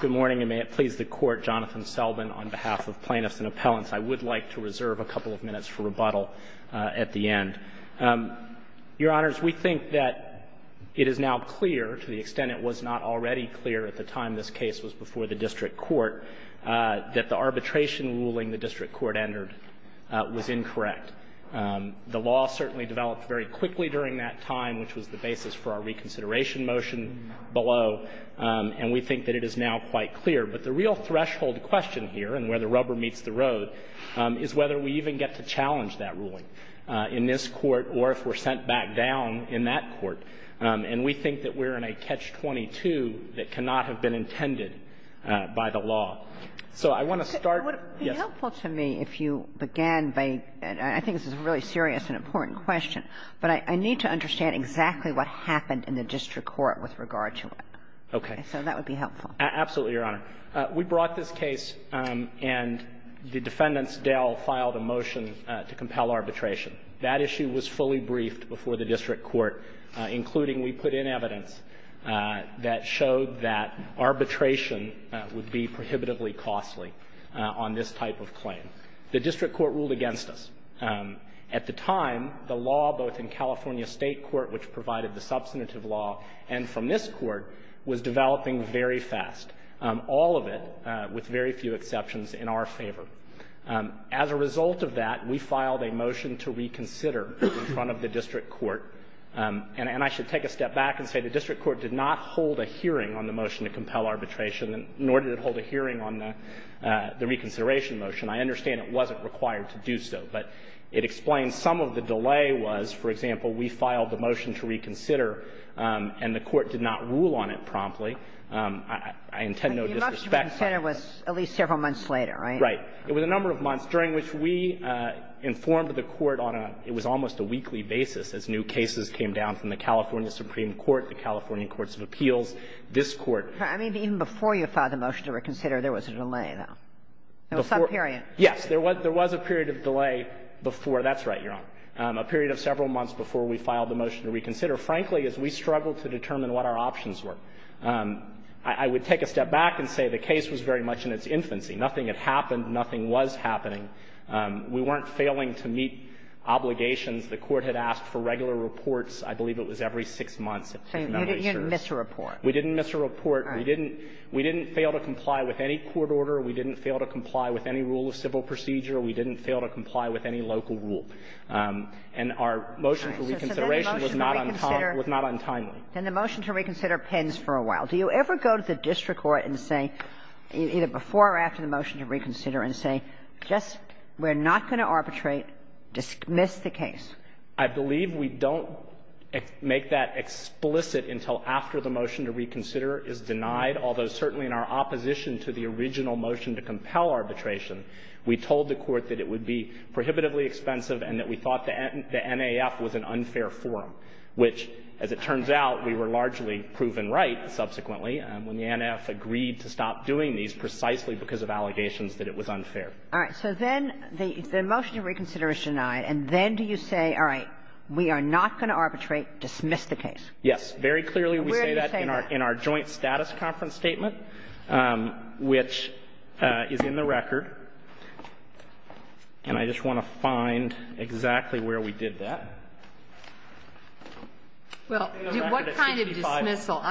Good morning, and may it please the Court, Jonathan Selbin, on behalf of plaintiffs and appellants, I would like to reserve a couple of minutes for rebuttal at the end. Your Honors, we think that it is now clear, to the extent it was not already clear at the time this case was before the District Court, that the arbitration ruling the District Court entered was incorrect. The law certainly developed very quickly during that time, which was the basis for our reconsideration motion below, and we think that it is now quite clear. But the real threshold question here, and where the rubber meets the road, is whether we even get to challenge that ruling in this Court or if we're sent back down in that Court. And we think that we're in a catch-22 that cannot have been intended by the law. So I want to start — It would be helpful to me if you began by — I think this is a really serious and important question, but I need to understand exactly what happened in the District Court with regard to it. Okay. So that would be helpful. Absolutely, Your Honor. We brought this case, and the defendants, Dell, filed a motion to compel arbitration. That issue was fully briefed before the District Court, including we put in evidence that showed that arbitration would be prohibitively costly on this type of claim. The District Court ruled against us. At the time, the law, both in California State court, which provided the substantive law, and from this court, was developing very fast, all of it with very few exceptions in our favor. As a result of that, we filed a motion to reconsider in front of the District Court. And I should take a step back and say the District Court did not hold a hearing on the motion to compel arbitration, nor did it hold a hearing on the reconsideration motion. I understand it wasn't required to do so, but it explains some of the delay was, for example, we filed the motion to reconsider, and the Court did not rule on it promptly. I intend no disrespect. But your motion to reconsider was at least several months later, right? Right. It was a number of months, during which we informed the Court on a – it was almost a weekly basis as new cases came down from the California Supreme Court, the California Courts of Appeals, this Court. I mean, even before you filed the motion to reconsider, there was a delay, though. There was some period. Yes. There was a period of delay before – that's right, Your Honor – a period of several months before we filed the motion to reconsider. Frankly, as we struggled to determine what our options were. I would take a step back and say the case was very much in its infancy. Nothing had happened. Nothing was happening. We weren't failing to meet obligations. The Court had asked for regular reports. I believe it was every six months, if my memory serves. So you didn't miss a report. We didn't miss a report. All right. We didn't fail to comply with any court order. We didn't fail to comply with any rule of civil procedure. We didn't fail to comply with any local rule. And our motion for reconsideration was not on time – was not on time. Then the motion to reconsider pens for a while. Do you ever go to the district court and say, either before or after the motion to reconsider, and say, just – we're not going to arbitrate. Dismiss the case. I believe we don't make that explicit until after the motion to reconsider is denied, although certainly in our opposition to the original motion to compel arbitration, we told the Court that it would be prohibitively expensive and that we thought the NAF was an unfair forum, which, as it turns out, we were largely proven right subsequently when the NAF agreed to stop doing these precisely because of allegations that it was unfair. All right. So then the motion to reconsider is denied, and then do you say, all right, we are not going to arbitrate. Dismiss the case. Yes, very clearly we say that in our joint status conference statement, which is in the record. And I just want to find exactly where we did that. Well, what kind of dismissal?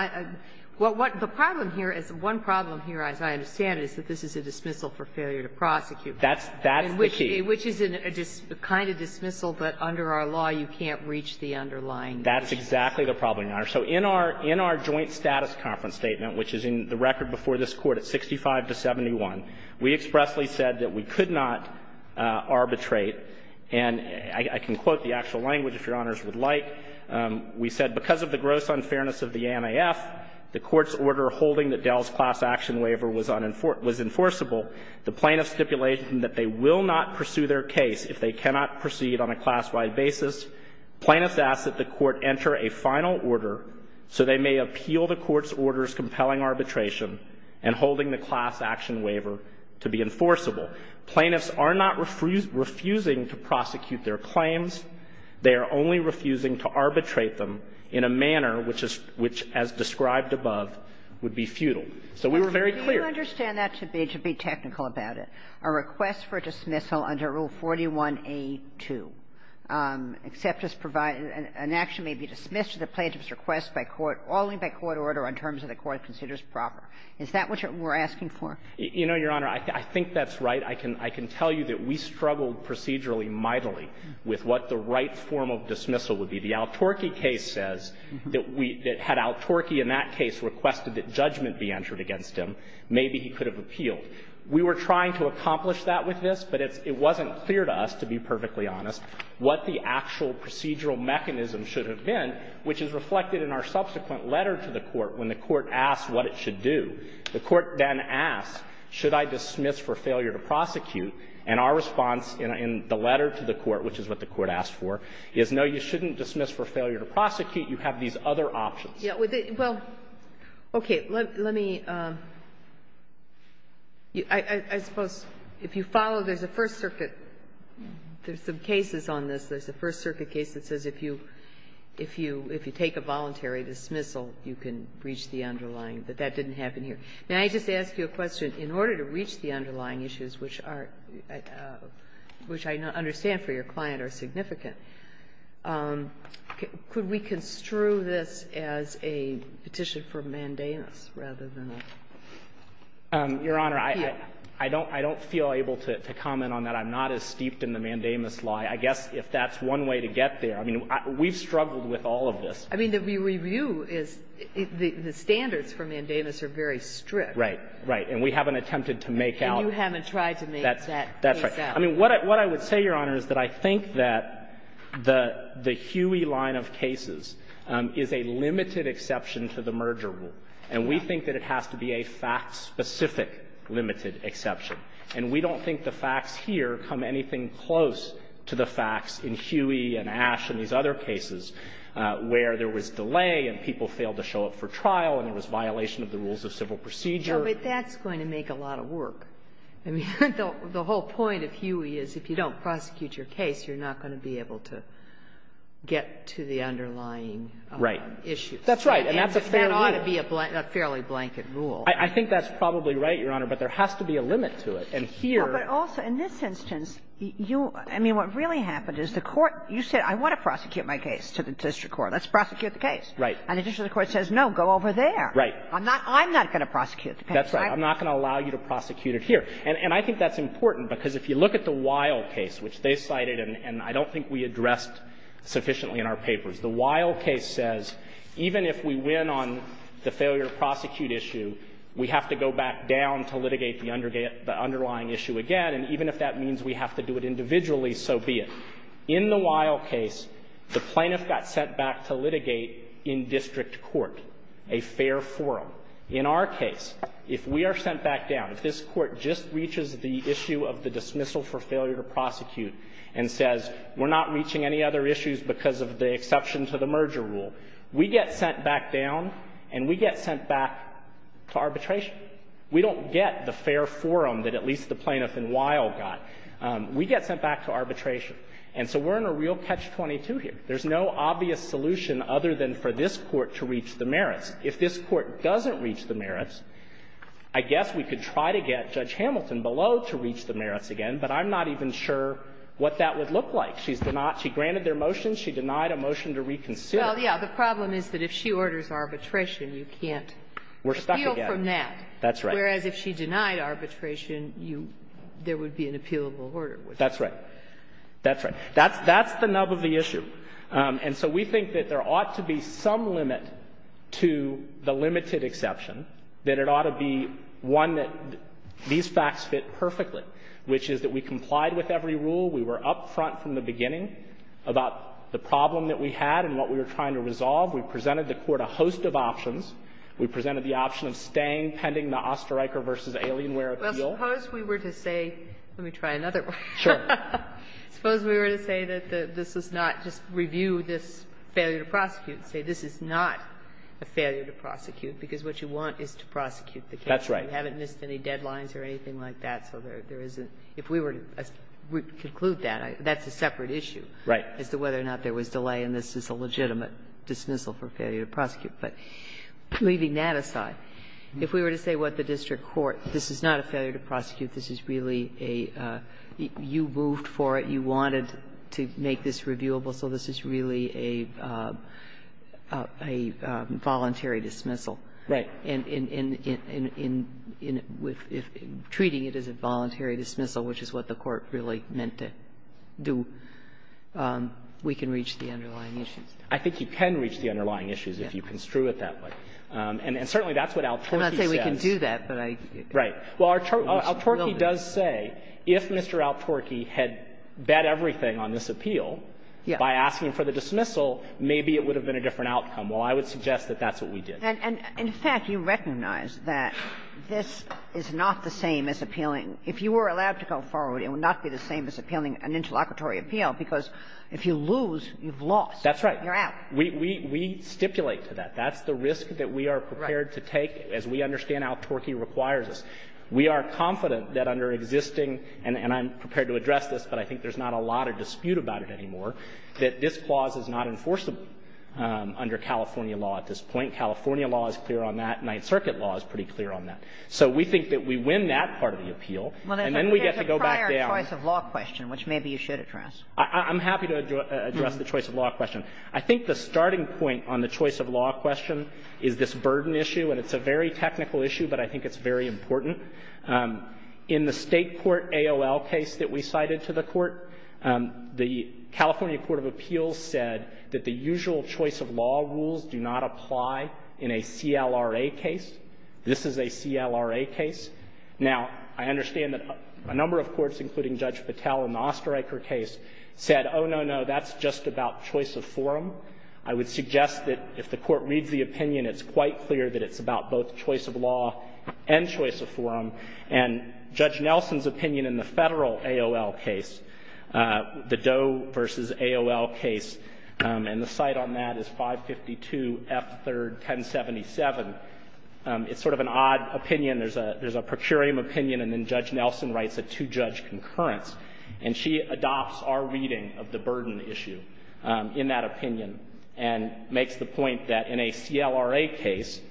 The problem here is – one problem here, as I understand it, is that this is a dismissal for failure to prosecute. That's the key. Which is a kind of dismissal, but under our law, you can't reach the underlying issue. That's exactly the problem, Your Honor. So in our – in our joint status conference statement, which is in the record before this Court at 65 to 71, we expressly said that we could not arbitrate and I can quote the actual language, if Your Honors would like. We said because of the gross unfairness of the NAF, the Court's order holding that Dell's class action waiver was unenforced – was enforceable, the plaintiff's stipulation that they will not pursue their case if they cannot proceed on a class-wide basis, plaintiffs ask that the Court enter a final order so they may appeal the Court's order's compelling arbitration and holding the class action waiver to be enforceable. Plaintiffs are not refusing to prosecute their claims. They are only refusing to arbitrate them in a manner which is – which, as described above, would be futile. So we were very clear. Kagan. You understand that to be – to be technical about it. A request for dismissal under Rule 41A2, except as provided – an action may be dismissed if the plaintiff's request by court – following the court order on terms that the court considers proper. Is that what you're – we're asking for? You know, Your Honor, I think that's right. I can – I can tell you that we struggled procedurally mightily with what the right form of dismissal would be. The Al-Torky case says that we – that had Al-Torky in that case requested that judgment be entered against him, maybe he could have appealed. We were trying to accomplish that with this, but it's – it wasn't clear to us, to be perfectly honest, what the actual procedural mechanism should have been, which is reflected in our subsequent letter to the court when the court asked what it should do. The court then asked, should I dismiss for failure to prosecute? And our response in the letter to the court, which is what the court asked for, is, no, you shouldn't dismiss for failure to prosecute. You have these other options. Kagan. Well, okay. Let me – I suppose if you follow, there's a First Circuit – there's some cases on this. There's a First Circuit case that says if you – if you take a voluntary dismissal, you can reach the underlying, but that didn't happen here. May I just ask you a question? In order to reach the underlying issues, which are – which I understand for your client are significant, could we construe this as a petition for mandamus rather than a appeal? Your Honor, I don't – I don't feel able to comment on that. I'm not as steeped in the mandamus law. I guess if that's one way to get there – I mean, we've struggled with all of this. I mean, the review is – the standards for mandamus are very strict. Right. Right. And we haven't attempted to make out – And you haven't tried to make that case out. That's right. I mean, what I would say, Your Honor, is that I think that the – the Huey line of cases is a limited exception to the merger rule. And we think that it has to be a fact-specific limited exception. And we don't think the facts here come anything close to the facts in Huey and Ash and these other cases where there was delay and people failed to show up for trial and there was violation of the rules of civil procedure. No, but that's going to make a lot of work. I mean, the whole point of Huey is if you don't prosecute your case, you're not going to be able to get to the underlying issues. Right. That's right. And that's a fair limit. And that ought to be a fairly blanket rule. I think that's probably right, Your Honor, but there has to be a limit to it. And here – But also, in this instance, you – I mean, what really happened is the Court – you said, I want to prosecute my case to the district court. Let's prosecute the case. Right. And the district court says, no, go over there. Right. I'm not – I'm not going to prosecute the case. That's right. I'm not going to allow you to prosecute it here. And I think that's important, because if you look at the Weill case, which they cited and I don't think we addressed sufficiently in our papers, the Weill case says, even if we win on the failure to prosecute issue, we have to go back down to litigate the under – the underlying issue again, and even if that means we have to do it individually, so be it. In the Weill case, the plaintiff got sent back to litigate in district court, a fair forum. In our case, if we are sent back down, if this Court just reaches the issue of the dismissal for failure to prosecute and says, we're not reaching any other issues because of the exception to the merger rule, we get sent back down and we get sent back to arbitration. We don't get the fair forum that at least the plaintiff in Weill got. We get sent back to arbitration. And so we're in a real catch-22 here. There's no obvious solution other than for this Court to reach the merits. If this Court doesn't reach the merits, I guess we could try to get Judge Hamilton below to reach the merits again, but I'm not even sure what that would look like. She's denied – she granted their motion. She denied a motion to reconsider. Well, yes. The problem is that if she orders arbitration, you can't appeal from that. We're stuck again. That's right. Whereas if she denied arbitration, you – there would be an appealable order. That's right. That's right. That's the nub of the issue. And so we think that there ought to be some limit to the limited exception, that it ought to be one that these facts fit perfectly, which is that we complied with every rule. We were up front from the beginning about the problem that we had and what we were trying to resolve. We presented the Court a host of options. We presented the option of staying pending the Osterreicher v. Alienware appeal. Well, suppose we were to say – let me try another one. Sure. Suppose we were to say that this is not – just review this failure to prosecute and say this is not a failure to prosecute, because what you want is to prosecute the case. That's right. You haven't missed any deadlines or anything like that, so there isn't – if we were to conclude that, that's a separate issue. Right. As to whether or not there was delay, and this is a legitimate dismissal for failure to prosecute. But leaving that aside, if we were to say, what, the district court, this is not a failure to prosecute. This is really a – you moved for it. You wanted to make this reviewable, so this is really a voluntary dismissal. Right. In treating it as a voluntary dismissal, which is what the Court really meant to do, we can reach the underlying issues. I think you can reach the underlying issues if you construe it that way. And certainly that's what Al-Torky says. I'm not saying we can do that, but I – Right. Well, Al-Torky does say, if Mr. Al-Torky had bet everything on this appeal by asking for the dismissal, maybe it would have been a different outcome. Well, I would suggest that that's what we did. And, in fact, you recognize that this is not the same as appealing. If you were allowed to go forward, it would not be the same as appealing an interlocutory appeal, because if you lose, you've lost. That's right. You're out. We stipulate to that. That's the risk that we are prepared to take as we understand Al-Torky requires us. We are confident that under existing – and I'm prepared to address this, but I think there's not a lot of dispute about it anymore – that this clause is not enforceable under California law at this point. California law is clear on that. Ninth Circuit law is pretty clear on that. So we think that we win that part of the appeal, and then we get to go back down. Well, there's a prior choice of law question, which maybe you should address. I'm happy to address the choice of law question. I think the starting point on the choice of law question is this burden issue. And it's a very technical issue, but I think it's very important. In the State Court AOL case that we cited to the Court, the California Court of Appeals said that the usual choice of law rules do not apply in a CLRA case. This is a CLRA case. Now, I understand that a number of courts, including Judge Patel in the Osterreicher case, said, oh, no, no, that's just about choice of forum. I would suggest that if the Court reads the opinion, it's quite clear that it's about both choice of law and choice of forum. And Judge Nelson's opinion in the Federal AOL case, the Doe v. AOL case, and the cite on that is 552 F. 3rd. 1077. It's sort of an odd opinion. There's a – there's a procurium opinion, and then Judge Nelson writes a two-judge concurrence. And she adopts our reading of the burden issue in that opinion and makes the point that in a CLRA case,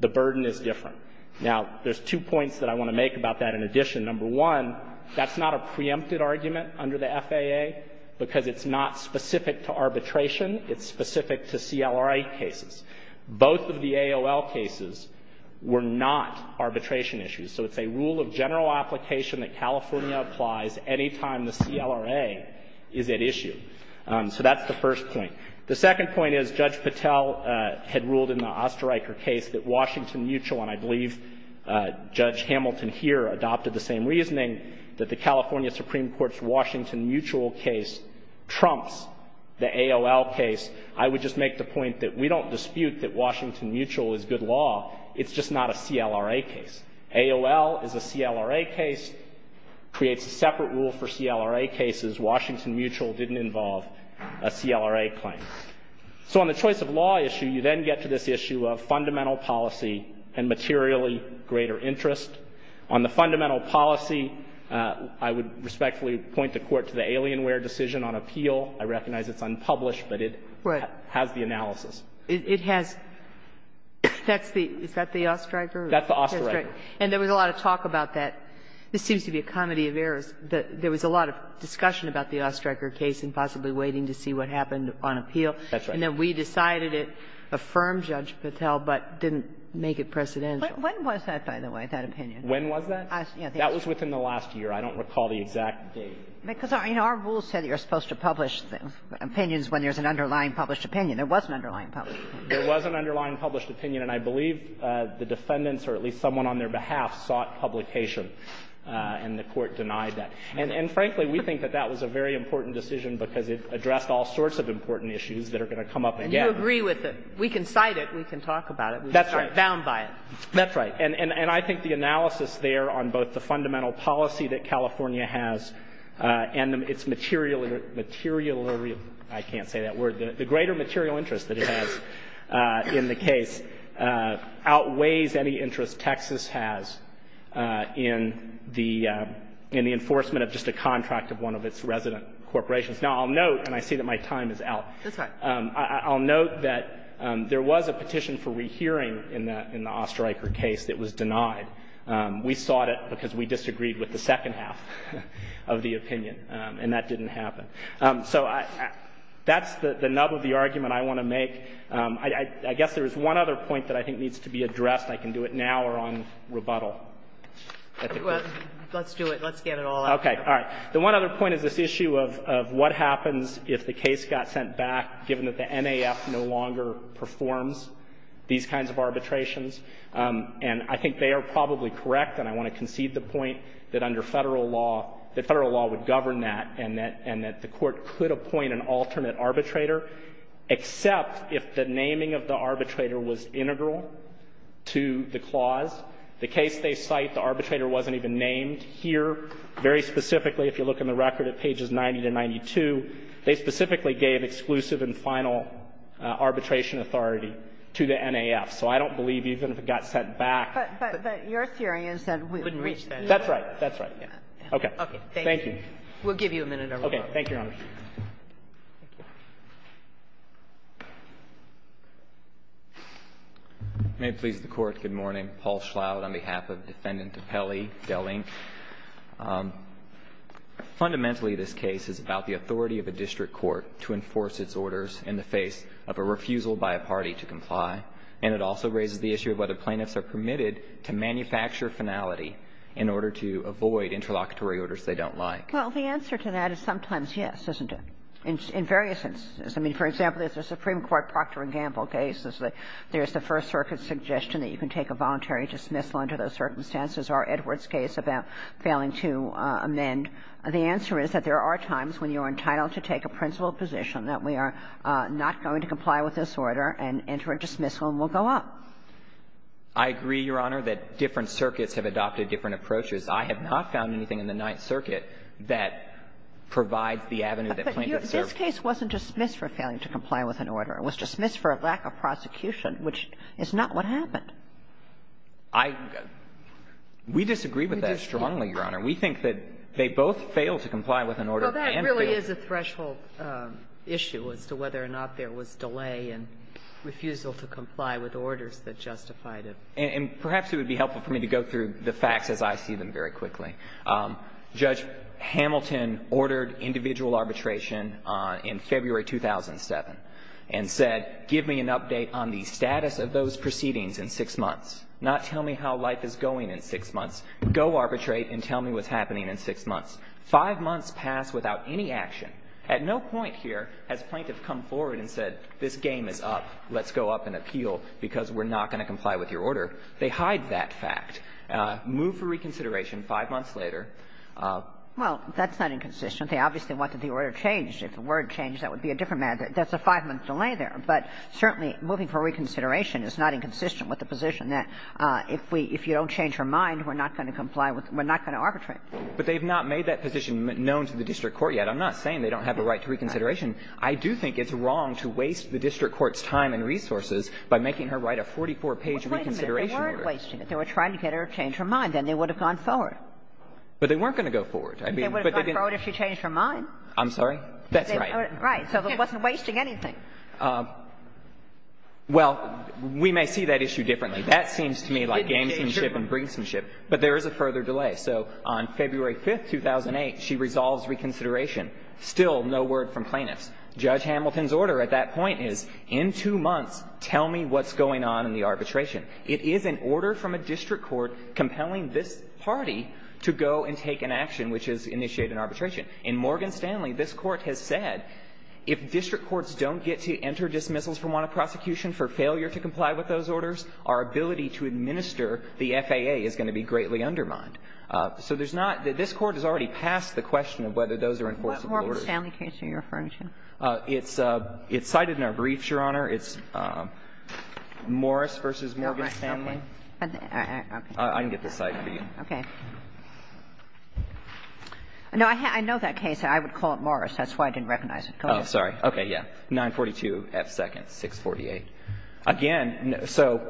the burden is different. Now, there's two points that I want to make about that in addition. Number one, that's not a preempted argument under the FAA because it's not specific to arbitration. It's specific to CLRA cases. Both of the AOL cases were not arbitration issues. So it's a rule of general application that California applies any time the CLRA is at issue. So that's the first point. The second point is Judge Patel had ruled in the Oesterreicher case that Washington Mutual, and I believe Judge Hamilton here adopted the same reasoning, that the California Supreme Court's Washington Mutual case trumps the AOL case. I would just make the point that we don't dispute that Washington Mutual is good law. It's just not a CLRA case. AOL is a CLRA case, creates a separate rule for CLRA cases. Washington Mutual didn't involve a CLRA claim. So on the choice of law issue, you then get to this issue of fundamental policy and materially greater interest. On the fundamental policy, I would respectfully point the Court to the Alienware decision on appeal. I recognize it's unpublished, but it has the analysis. It has. That's the Oesterreicher. And there was a lot of talk about that. This seems to be a comedy of errors. There was a lot of discussion about the Oesterreicher case and possibly waiting to see what happened on appeal. That's right. And then we decided it affirmed Judge Patel, but didn't make it precedential. When was that, by the way, that opinion? When was that? That was within the last year. I don't recall the exact date. Because our rules say that you're supposed to publish opinions when there's an underlying published opinion. There was an underlying published opinion. There was an underlying published opinion. And I believe the defendants, or at least someone on their behalf, sought publication. And the Court denied that. And frankly, we think that that was a very important decision because it addressed all sorts of important issues that are going to come up again. And you agree with it. We can cite it. We can talk about it. That's right. We can be bound by it. That's right. And I think the analysis there on both the fundamental policy that California has and its material real – I can't say that word – the greater material interest that it has in the case outweighs any interest Texas has in the enforcement of just a contract of one of its resident corporations. Now, I'll note – and I see that my time is out. That's fine. I'll note that there was a petition for rehearing in the Osterreicher case that was denied. We sought it because we disagreed with the second half of the opinion. And that didn't happen. So that's the nub of the argument I want to make. I guess there is one other point that I think needs to be addressed. I can do it now or on rebuttal. Let's do it. Let's get it all out. Okay. All right. The one other point is this issue of what happens if the case got sent back given that the NAF no longer performs these kinds of arbitrations. And I think they are probably correct. And I want to concede the point that under Federal law – that Federal law would govern that and that – and that the Court could appoint an alternate arbitrator except if the naming of the arbitrator was integral to the clause. The case they cite, the arbitrator wasn't even named here. Very specifically, if you look in the record at pages 90 to 92, they specifically gave exclusive and final arbitration authority to the NAF. So I don't believe even if it got sent back… But – but your theory is that we wouldn't reach that. That's right. That's right. Okay. Okay. Thank you. We'll give you a minute, Your Honor. Okay. Thank you, Your Honor. May it please the Court, good morning. Paul Schlout on behalf of Defendant DiPelli, Dehling. Fundamentally, this case is about the authority of a district court to enforce its orders in the face of a refusal by a party to comply, and it also raises the issue of whether plaintiffs are permitted to manufacture finality in order to avoid interlocutory orders they don't like. Well, the answer to that is sometimes yes, isn't it, in various instances? I mean, for example, there's a Supreme Court Procter & Gamble case. There's the First Circuit's suggestion that you can take a voluntary dismissal under those circumstances, or Edward's case about failing to amend. The answer is that there are times when you're entitled to take a principled position that we are not going to comply with this order and enter a dismissal and we'll go up. I agree, Your Honor, that different circuits have adopted different approaches. I have not found anything in the Ninth Circuit that provides the avenue that plaintiffs serve. But this case wasn't dismissed for failing to comply with an order. It was dismissed for a lack of prosecution, which is not what happened. I — we disagree with that strongly, Your Honor. We think that they both fail to comply with an order and fail to comply with an order. Well, that really is a threshold issue as to whether or not there was delay and refusal to comply with orders that justified it. And perhaps it would be helpful for me to go through the facts as I see them very quickly. Judge Hamilton ordered individual arbitration in February 2007 and said, give me an update on the status of those proceedings in six months, not tell me how life is going in six months. Go arbitrate and tell me what's happening in six months. Five months passed without any action. At no point here has plaintiff come forward and said, this game is up. Let's go up and appeal because we're not going to comply with your order. They hide that fact. Move for reconsideration five months later. Well, that's not inconsistent. They obviously want that the order changed. If the word changed, that would be a different matter. There's a five-month delay there. But certainly moving for reconsideration is not inconsistent with the position that if we — if you don't change your mind, we're not going to comply with — we're not going to arbitrate. But they've not made that position known to the district court yet. I'm not saying they don't have a right to reconsideration. I do think it's wrong to waste the district court's time and resources by making her write a 44-page reconsideration order. Wait a minute. They weren't wasting it. They were trying to get her to change her mind. Then they would have gone forward. But they weren't going to go forward. I mean, but they didn't — They would have gone forward if she changed her mind. I'm sorry? That's right. Right. So it wasn't wasting anything. Well, we may see that issue differently. That seems to me like gamesmanship and brinksmanship. But there is a further delay. So on February 5th, 2008, she resolves reconsideration. Still no word from plaintiffs. Judge Hamilton's order at that point is, in two months, tell me what's going on in the arbitration. It is an order from a district court compelling this party to go and take an action which has initiated an arbitration. In Morgan Stanley, this Court has said, if district courts don't get to enter dismissals for want of prosecution for failure to comply with those orders, our ability to administer the FAA is going to be greatly undermined. So there's not — this Court has already passed the question of whether those are enforceable orders. What Morgan Stanley case are you referring to? It's cited in our briefs, Your Honor. It's Morris v. Morgan Stanley. I can get this cited for you. Okay. No, I know that case. I would call it Morris. That's why I didn't recognize it. Go ahead. Oh, sorry. Okay, yeah. 942 F. Second, 648. Again, so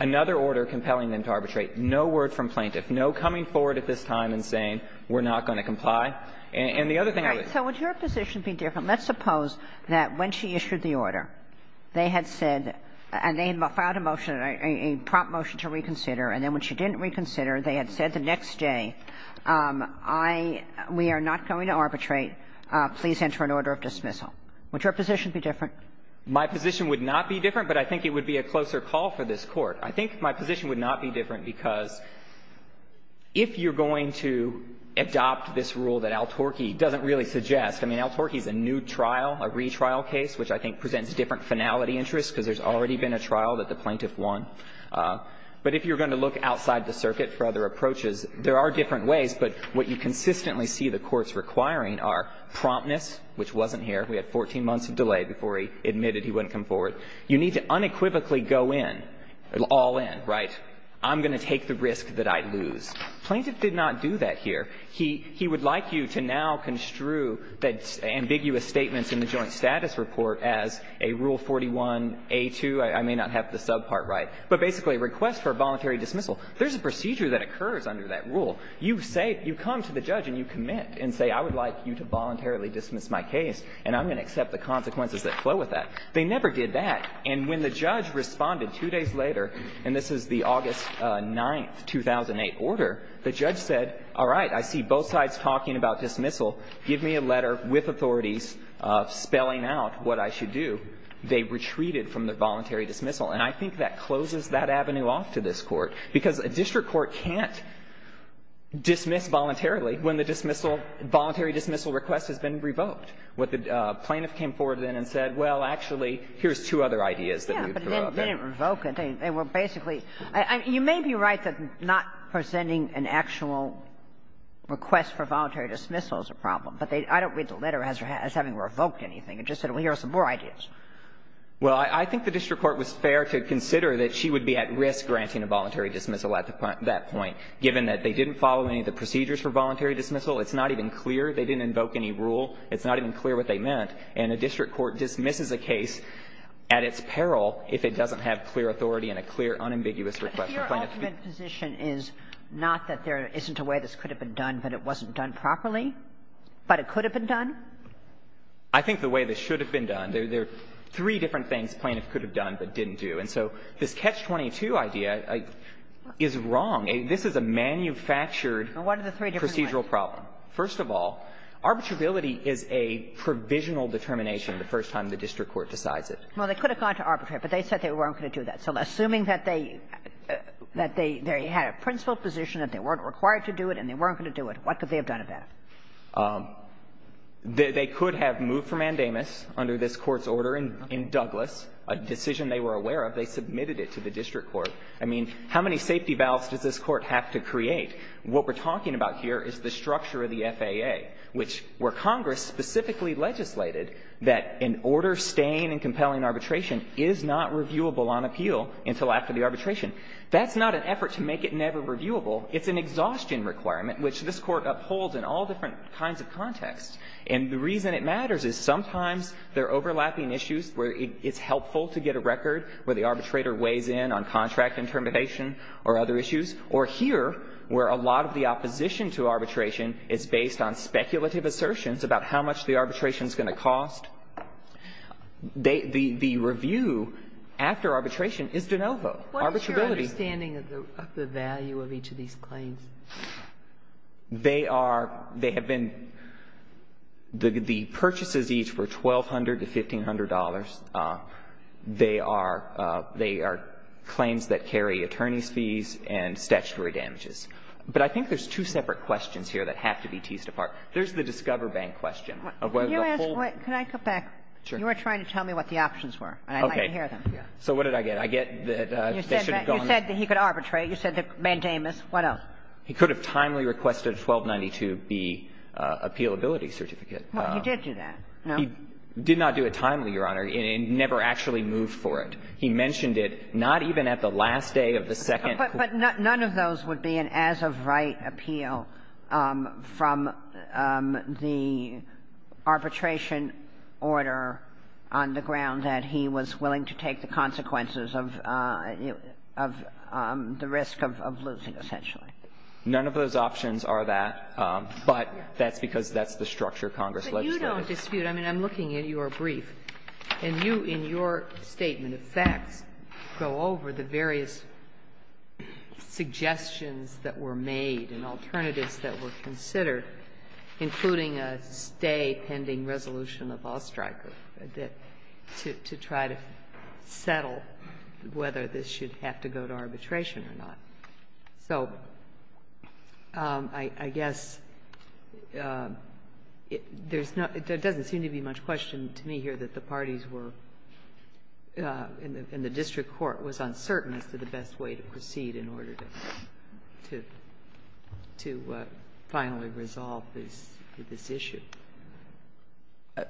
another order compelling them to arbitrate. No word from plaintiffs. No coming forward at this time and saying, we're not going to comply. And the other thing I would say — Right. So would your position be different? Let's suppose that when she issued the order, they had said — and they had filed a motion, a prompt motion to reconsider, and then when she didn't reconsider, they had said the next day, I — we are not going to arbitrate. Please enter an order of dismissal. Would your position be different? My position would not be different, but I think it would be a closer call for this Court. I think my position would not be different because if you're going to adopt this rule that Al-Turki doesn't really suggest — I mean, Al-Turki is a new trial, a retrial case, which I think presents different finality interests because there's already been a trial that the plaintiff won. But if you're going to look outside the circuit for other approaches, there are different ways, but what you consistently see the courts requiring are promptness, which wasn't here. We had 14 months of delay before he admitted he wouldn't come forward. You need to unequivocally go in, all in, right? I'm going to take the risk that I lose. Plaintiff did not do that here. He would like you to now construe the ambiguous statements in the Joint Status Report as a Rule 41a2. I may not have the subpart right, but basically a request for a voluntary dismissal. There's a procedure that occurs under that rule. You say — you come to the judge and you commit and say, I would like you to voluntarily dismiss my case, and I'm going to accept the consequences that flow with that. They never did that. And when the judge responded two days later, and this is the August 9, 2008, order, the judge said, all right, I see both sides talking about dismissal. Give me a letter with authorities spelling out what I should do. They retreated from the voluntary dismissal. And I think that closes that avenue off to this Court, because a district court can't dismiss voluntarily when the dismissal — voluntary dismissal request has been revoked. What the plaintiff came forward then and said, well, actually, here's two other ideas that we've thrown out there. Kagan. They didn't revoke it. They were basically — you may be right that not presenting an actual request for voluntary dismissal is a problem, but they — I don't read the letter as having revoked anything. It just said, well, here are some more ideas. Well, I think the district court was fair to consider that she would be at risk granting a voluntary dismissal at that point, given that they didn't follow any of the procedures for voluntary dismissal. It's not even clear. They didn't invoke any rule. It's not even clear what they meant. And a district court dismisses a case at its peril if it doesn't have clear authority and a clear, unambiguous request. Kagan. But your ultimate position is not that there isn't a way this could have been done, but it wasn't done properly, but it could have been done? I think the way this should have been done, there are three different things plaintiffs could have done but didn't do. And so this Catch-22 idea is wrong. This is a manufactured procedural problem. First of all, arbitrability is a provisional determination the first time the district court decides it. Well, they could have gone to arbitrate, but they said they weren't going to do that. So assuming that they had a principled position, that they weren't required to do it and they weren't going to do it, what could they have done about it? They could have moved from mandamus under this Court's order in Douglas, a decision they were aware of. They submitted it to the district court. I mean, how many safety valves does this Court have to create? What we're talking about here is the structure of the FAA, which where Congress specifically legislated that an order staying in compelling arbitration is not reviewable on appeal until after the arbitration. That's not an effort to make it never reviewable. It's an exhaustion requirement, which this Court upholds in all different kinds of contexts. And the reason it matters is sometimes there are overlapping issues where it's helpful to get a record where the arbitrator weighs in on contract intermediation or other issues, or here where a lot of the opposition to arbitration is based on speculative assertions about how much the arbitration is going to cost. The review after arbitration is de novo. Arbitrability. What is your understanding of the value of each of these claims? They are they have been the purchases each were $1,200 to $1,500. They are claims that carry attorney's fees and statutory damages. But I think there's two separate questions here that have to be teased apart. There's the Discover Bank question of whether the whole Can I go back? You were trying to tell me what the options were. I'd like to hear them. So what did I get? I get that they should have gone You said that he could arbitrate. You said that mandamus. What else? He could have timely requested a 1292B appealability certificate. Well, he did do that, no? He did not do it timely, Your Honor, and never actually moved for it. He mentioned it not even at the last day of the second court. But none of those would be an as-of-right appeal from the arbitration order on the ground that he was willing to take the consequences of the risk of losing, essentially. None of those options are that, but that's because that's the structure Congress legislated. Ginsburg. I mean, I'm looking at your brief, and you, in your statement of facts, go over the various suggestions that were made and alternatives that were considered, including a stay-pending resolution of Allstriker to try to settle whether this should have to go to arbitration or not. So I guess there's not — there doesn't seem to be much question to me here that the parties were — in the district court was uncertain as to the best way to proceed in order to finally resolve this issue.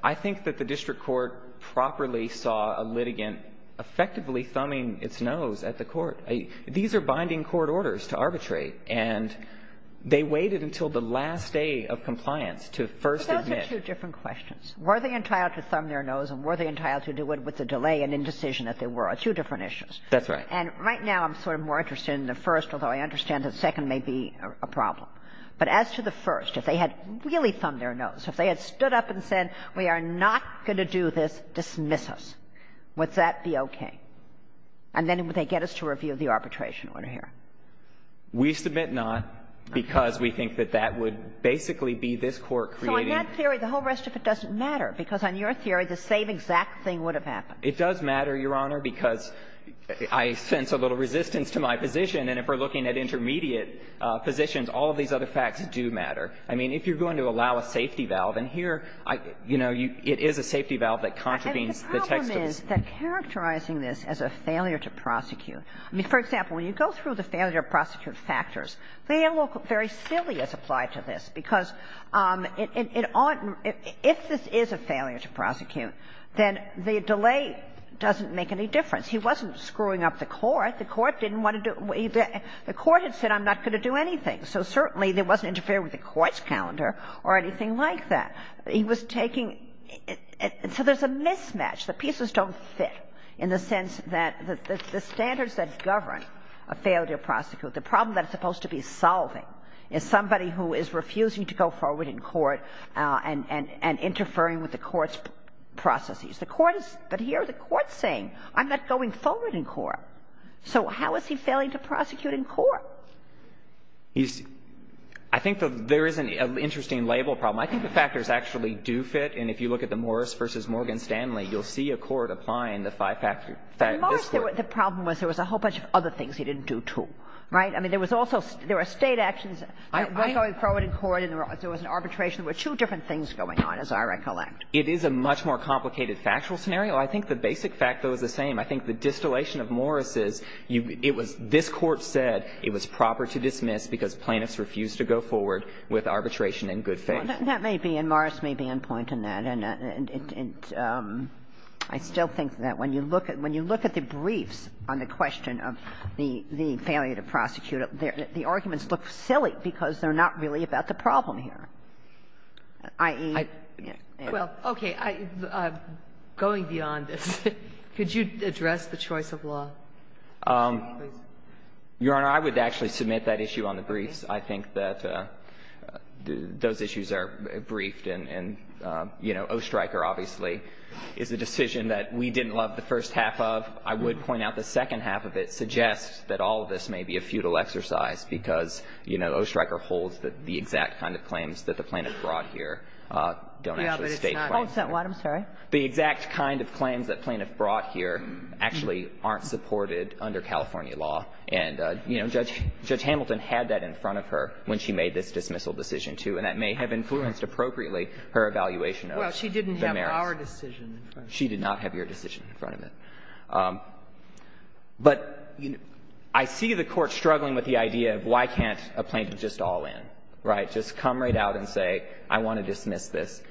I think that the district court properly saw a litigant effectively thumbing its nose at the court. These are binding court orders to arbitrate, and they waited until the last day of compliance to first admit. But those are two different questions. Were they entitled to thumb their nose, and were they entitled to do it with the delay and indecision that there were? Two different issues. That's right. And right now, I'm sort of more interested in the first, although I understand the second may be a problem. But as to the first, if they had really thumbed their nose, if they had stood up and said, we are not going to do this, dismiss us, would that be okay? And then would they get us to review the arbitration order here? We submit not, because we think that that would basically be this Court creating So in that theory, the whole rest of it doesn't matter, because on your theory, the same exact thing would have happened. It does matter, Your Honor, because I sense a little resistance to my position. And if we're looking at intermediate positions, all of these other facts do matter. I mean, if you're going to allow a safety valve, and here, you know, it is a safety valve that contravenes the text of the statute. And I think that characterizing this as a failure to prosecute – I mean, for example, when you go through the failure to prosecute factors, they all look very silly as applied to this, because it oughtn't – if this is a failure to prosecute, then the delay doesn't make any difference. He wasn't screwing up the Court. The Court didn't want to do – the Court had said, I'm not going to do anything. So certainly, there wasn't an interference with the Court's calendar or anything like that. He was taking – so there's a mismatch. The pieces don't fit in the sense that the standards that govern a failure to prosecute, the problem that it's supposed to be solving is somebody who is refusing to go forward in court and interfering with the Court's processes. The Court is – but here, the Court's saying, I'm not going forward in court. So how is he failing to prosecute in court? He's – I think there is an interesting label problem. I think the factors actually do fit. And if you look at the Morris v. Morgan-Stanley, you'll see a court applying the five-factor – this Court. Kagan. The problem was there was a whole bunch of other things he didn't do, too, right? I mean, there was also – there were State actions, I'm going forward in court, and there was an arbitration. There were two different things going on, as I recollect. It is a much more complicated factual scenario. I think the basic fact, though, is the same. I think the distillation of Morris is you – it was – this Court said it was proper to dismiss because plaintiffs refused to go forward with arbitration in good faith. That may be – and Morris may be on point in that. And it – I still think that when you look at – when you look at the briefs on the question of the failure to prosecute, the arguments look silly because they're not really about the problem here, i.e. Well, okay. I'm going beyond this. Could you address the choice of law? Your Honor, I would actually submit that issue on the briefs. I think that those issues are briefed and – and, you know, Oestreicher, obviously, is a decision that we didn't love the first half of. I would point out the second half of it suggests that all of this may be a futile exercise because, you know, Oestreicher holds that the exact kind of claims that the plaintiff brought here don't actually stay claims. Oh, I'm sorry. The exact kind of claims that plaintiff brought here actually aren't supported under California law. And, you know, Judge – Judge Hamilton had that in front of her when she made this dismissal decision, too, and that may have influenced appropriately her evaluation of the merits. Well, she didn't have our decision in front of her. She did not have your decision in front of her. But I see the Court struggling with the idea of why can't a plaintiff just all in, right, just come right out and say, I want to dismiss this.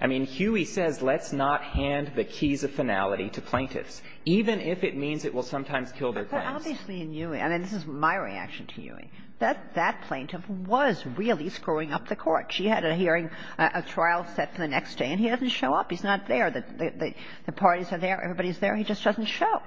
I mean, Huey says let's not hand the keys of finality to plaintiffs, even if it means it will sometimes kill their claims. Obviously, in Huey, and this is my reaction to Huey, that that plaintiff was really screwing up the Court. She had a hearing, a trial set for the next day, and he doesn't show up. He's not there. The parties are there. Everybody's there. He just doesn't show.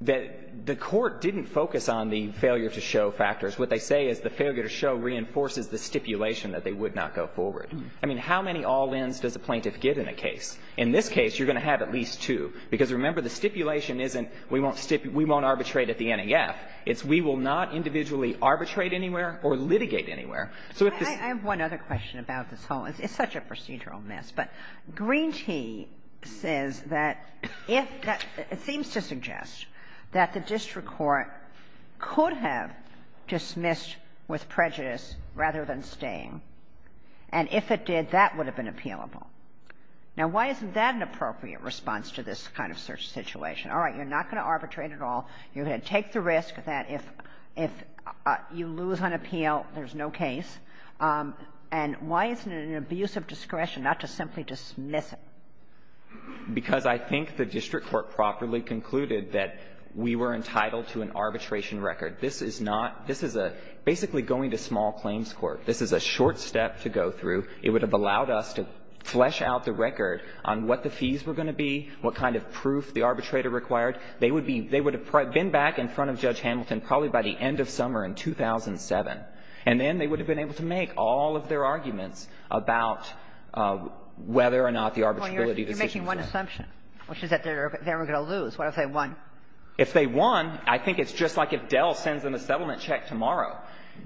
The Court didn't focus on the failure to show factors. What they say is the failure to show reinforces the stipulation that they would not go forward. I mean, how many all-ins does a plaintiff get in a case? In this case, you're going to have at least two, because, remember, the stipulation isn't we won't stipulate, we won't arbitrate at the NEF. It's we will not individually arbitrate anywhere or litigate anywhere. So if this ---- I have one other question about this whole thing. It's such a procedural mess, but Green Tea says that if the ---- it seems to suggest that the district court could have dismissed with prejudice rather than staying. And if it did, that would have been appealable. Now, why isn't that an appropriate response to this kind of situation? All right, you're not going to arbitrate at all. You're going to take the risk that if you lose on appeal, there's no case. And why isn't it an abuse of discretion not to simply dismiss it? Because I think the district court properly concluded that we were entitled to an arbitration record. This is not ---- this is a basically going to small claims court. This is a short step to go through. It would have allowed us to flesh out the record on what the fees were going to be, what kind of proof the arbitrator required. They would be ---- they would have been back in front of Judge Hamilton probably by the end of summer in 2007, and then they would have been able to make all of their arguments about whether or not the arbitrability decision was right. Well, you're making one assumption, which is that they were going to lose. What if they won? If they won, I think it's just like if Dell sends them a settlement check tomorrow.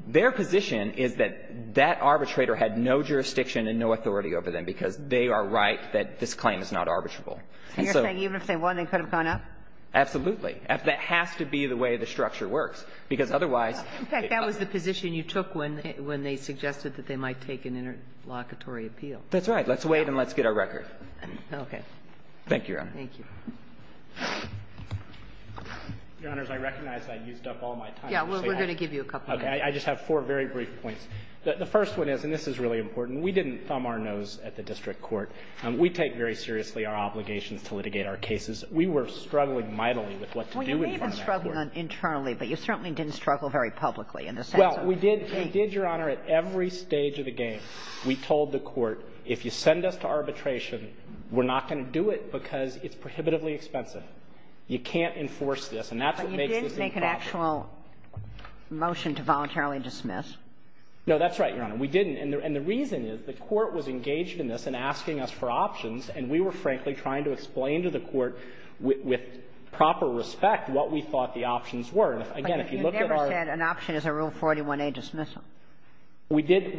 Their position is that that arbitrator had no jurisdiction and no authority over them because they are right that this claim is not arbitrable. And so ---- And you're saying even if they won, they could have gone up? Absolutely. That has to be the way the structure works, because otherwise ---- In fact, that was the position you took when they suggested that they might take an interlocutory appeal. That's right. Let's wait and let's get our record. Okay. Thank you, Your Honor. Thank you. Your Honors, I recognize I used up all my time. I just have four very brief points. The first one is, and this is really important, we didn't thumb our nose at the district court. We take very seriously our obligations to litigate our cases. We were struggling mightily with what to do in front of that court. Well, you may have been struggling internally, but you certainly didn't struggle very publicly in the sense of the case. Well, we did, Your Honor, at every stage of the game, we told the court, if you send us to arbitration, we're not going to do it because it's prohibitively expensive. You can't enforce this, and that's what makes this impossible. You didn't make an actual motion to voluntarily dismiss. No, that's right, Your Honor. We didn't. And the reason is the court was engaged in this and asking us for options, and we were, frankly, trying to explain to the court with proper respect what we thought the options were. And, again, if you look at our ---- But you never said an option is a Rule 41a dismissal. We did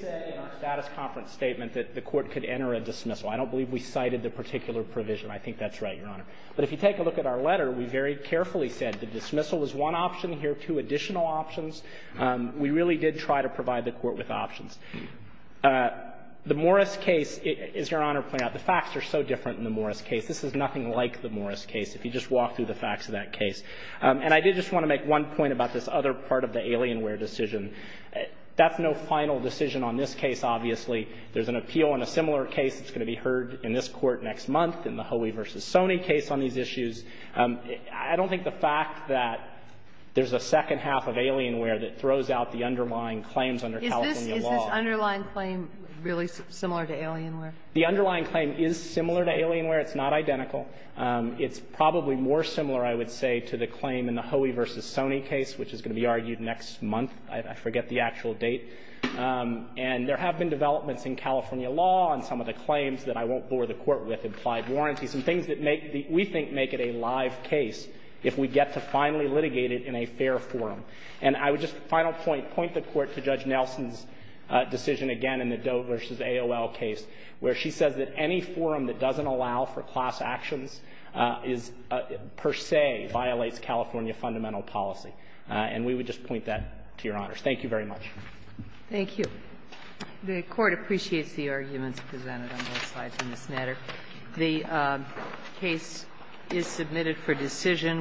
say in our status conference statement that the court could enter a dismissal. I don't believe we cited the particular provision. I think that's right, Your Honor. But if you take a look at our letter, we very carefully said the dismissal is one option. Here are two additional options. We really did try to provide the court with options. The Morris case, as Your Honor pointed out, the facts are so different in the Morris case. This is nothing like the Morris case, if you just walk through the facts of that case. And I did just want to make one point about this other part of the Alienware decision. That's no final decision on this case, obviously. There's an appeal on a similar case that's going to be heard in this Court next month in the Hoey v. Sony case on these issues. I don't think the fact that there's a second half of Alienware that throws out the underlying claims under California law ---- Is this underlying claim really similar to Alienware? The underlying claim is similar to Alienware. It's not identical. It's probably more similar, I would say, to the claim in the Hoey v. Sony case, which is going to be argued next month. I forget the actual date. And there have been developments in California law on some of the claims that I won't bore the Court with, implied warranties, and things that make the ---- we think make it a live case if we get to finally litigate it in a fair forum. And I would just, final point, point the Court to Judge Nelson's decision again in the Doe v. AOL case, where she says that any forum that doesn't allow for class actions is per se violates California fundamental policy. And we would just point that to Your Honors. Thank you very much. Thank you. The Court appreciates the arguments presented on both sides of this matter. The case is submitted for decision.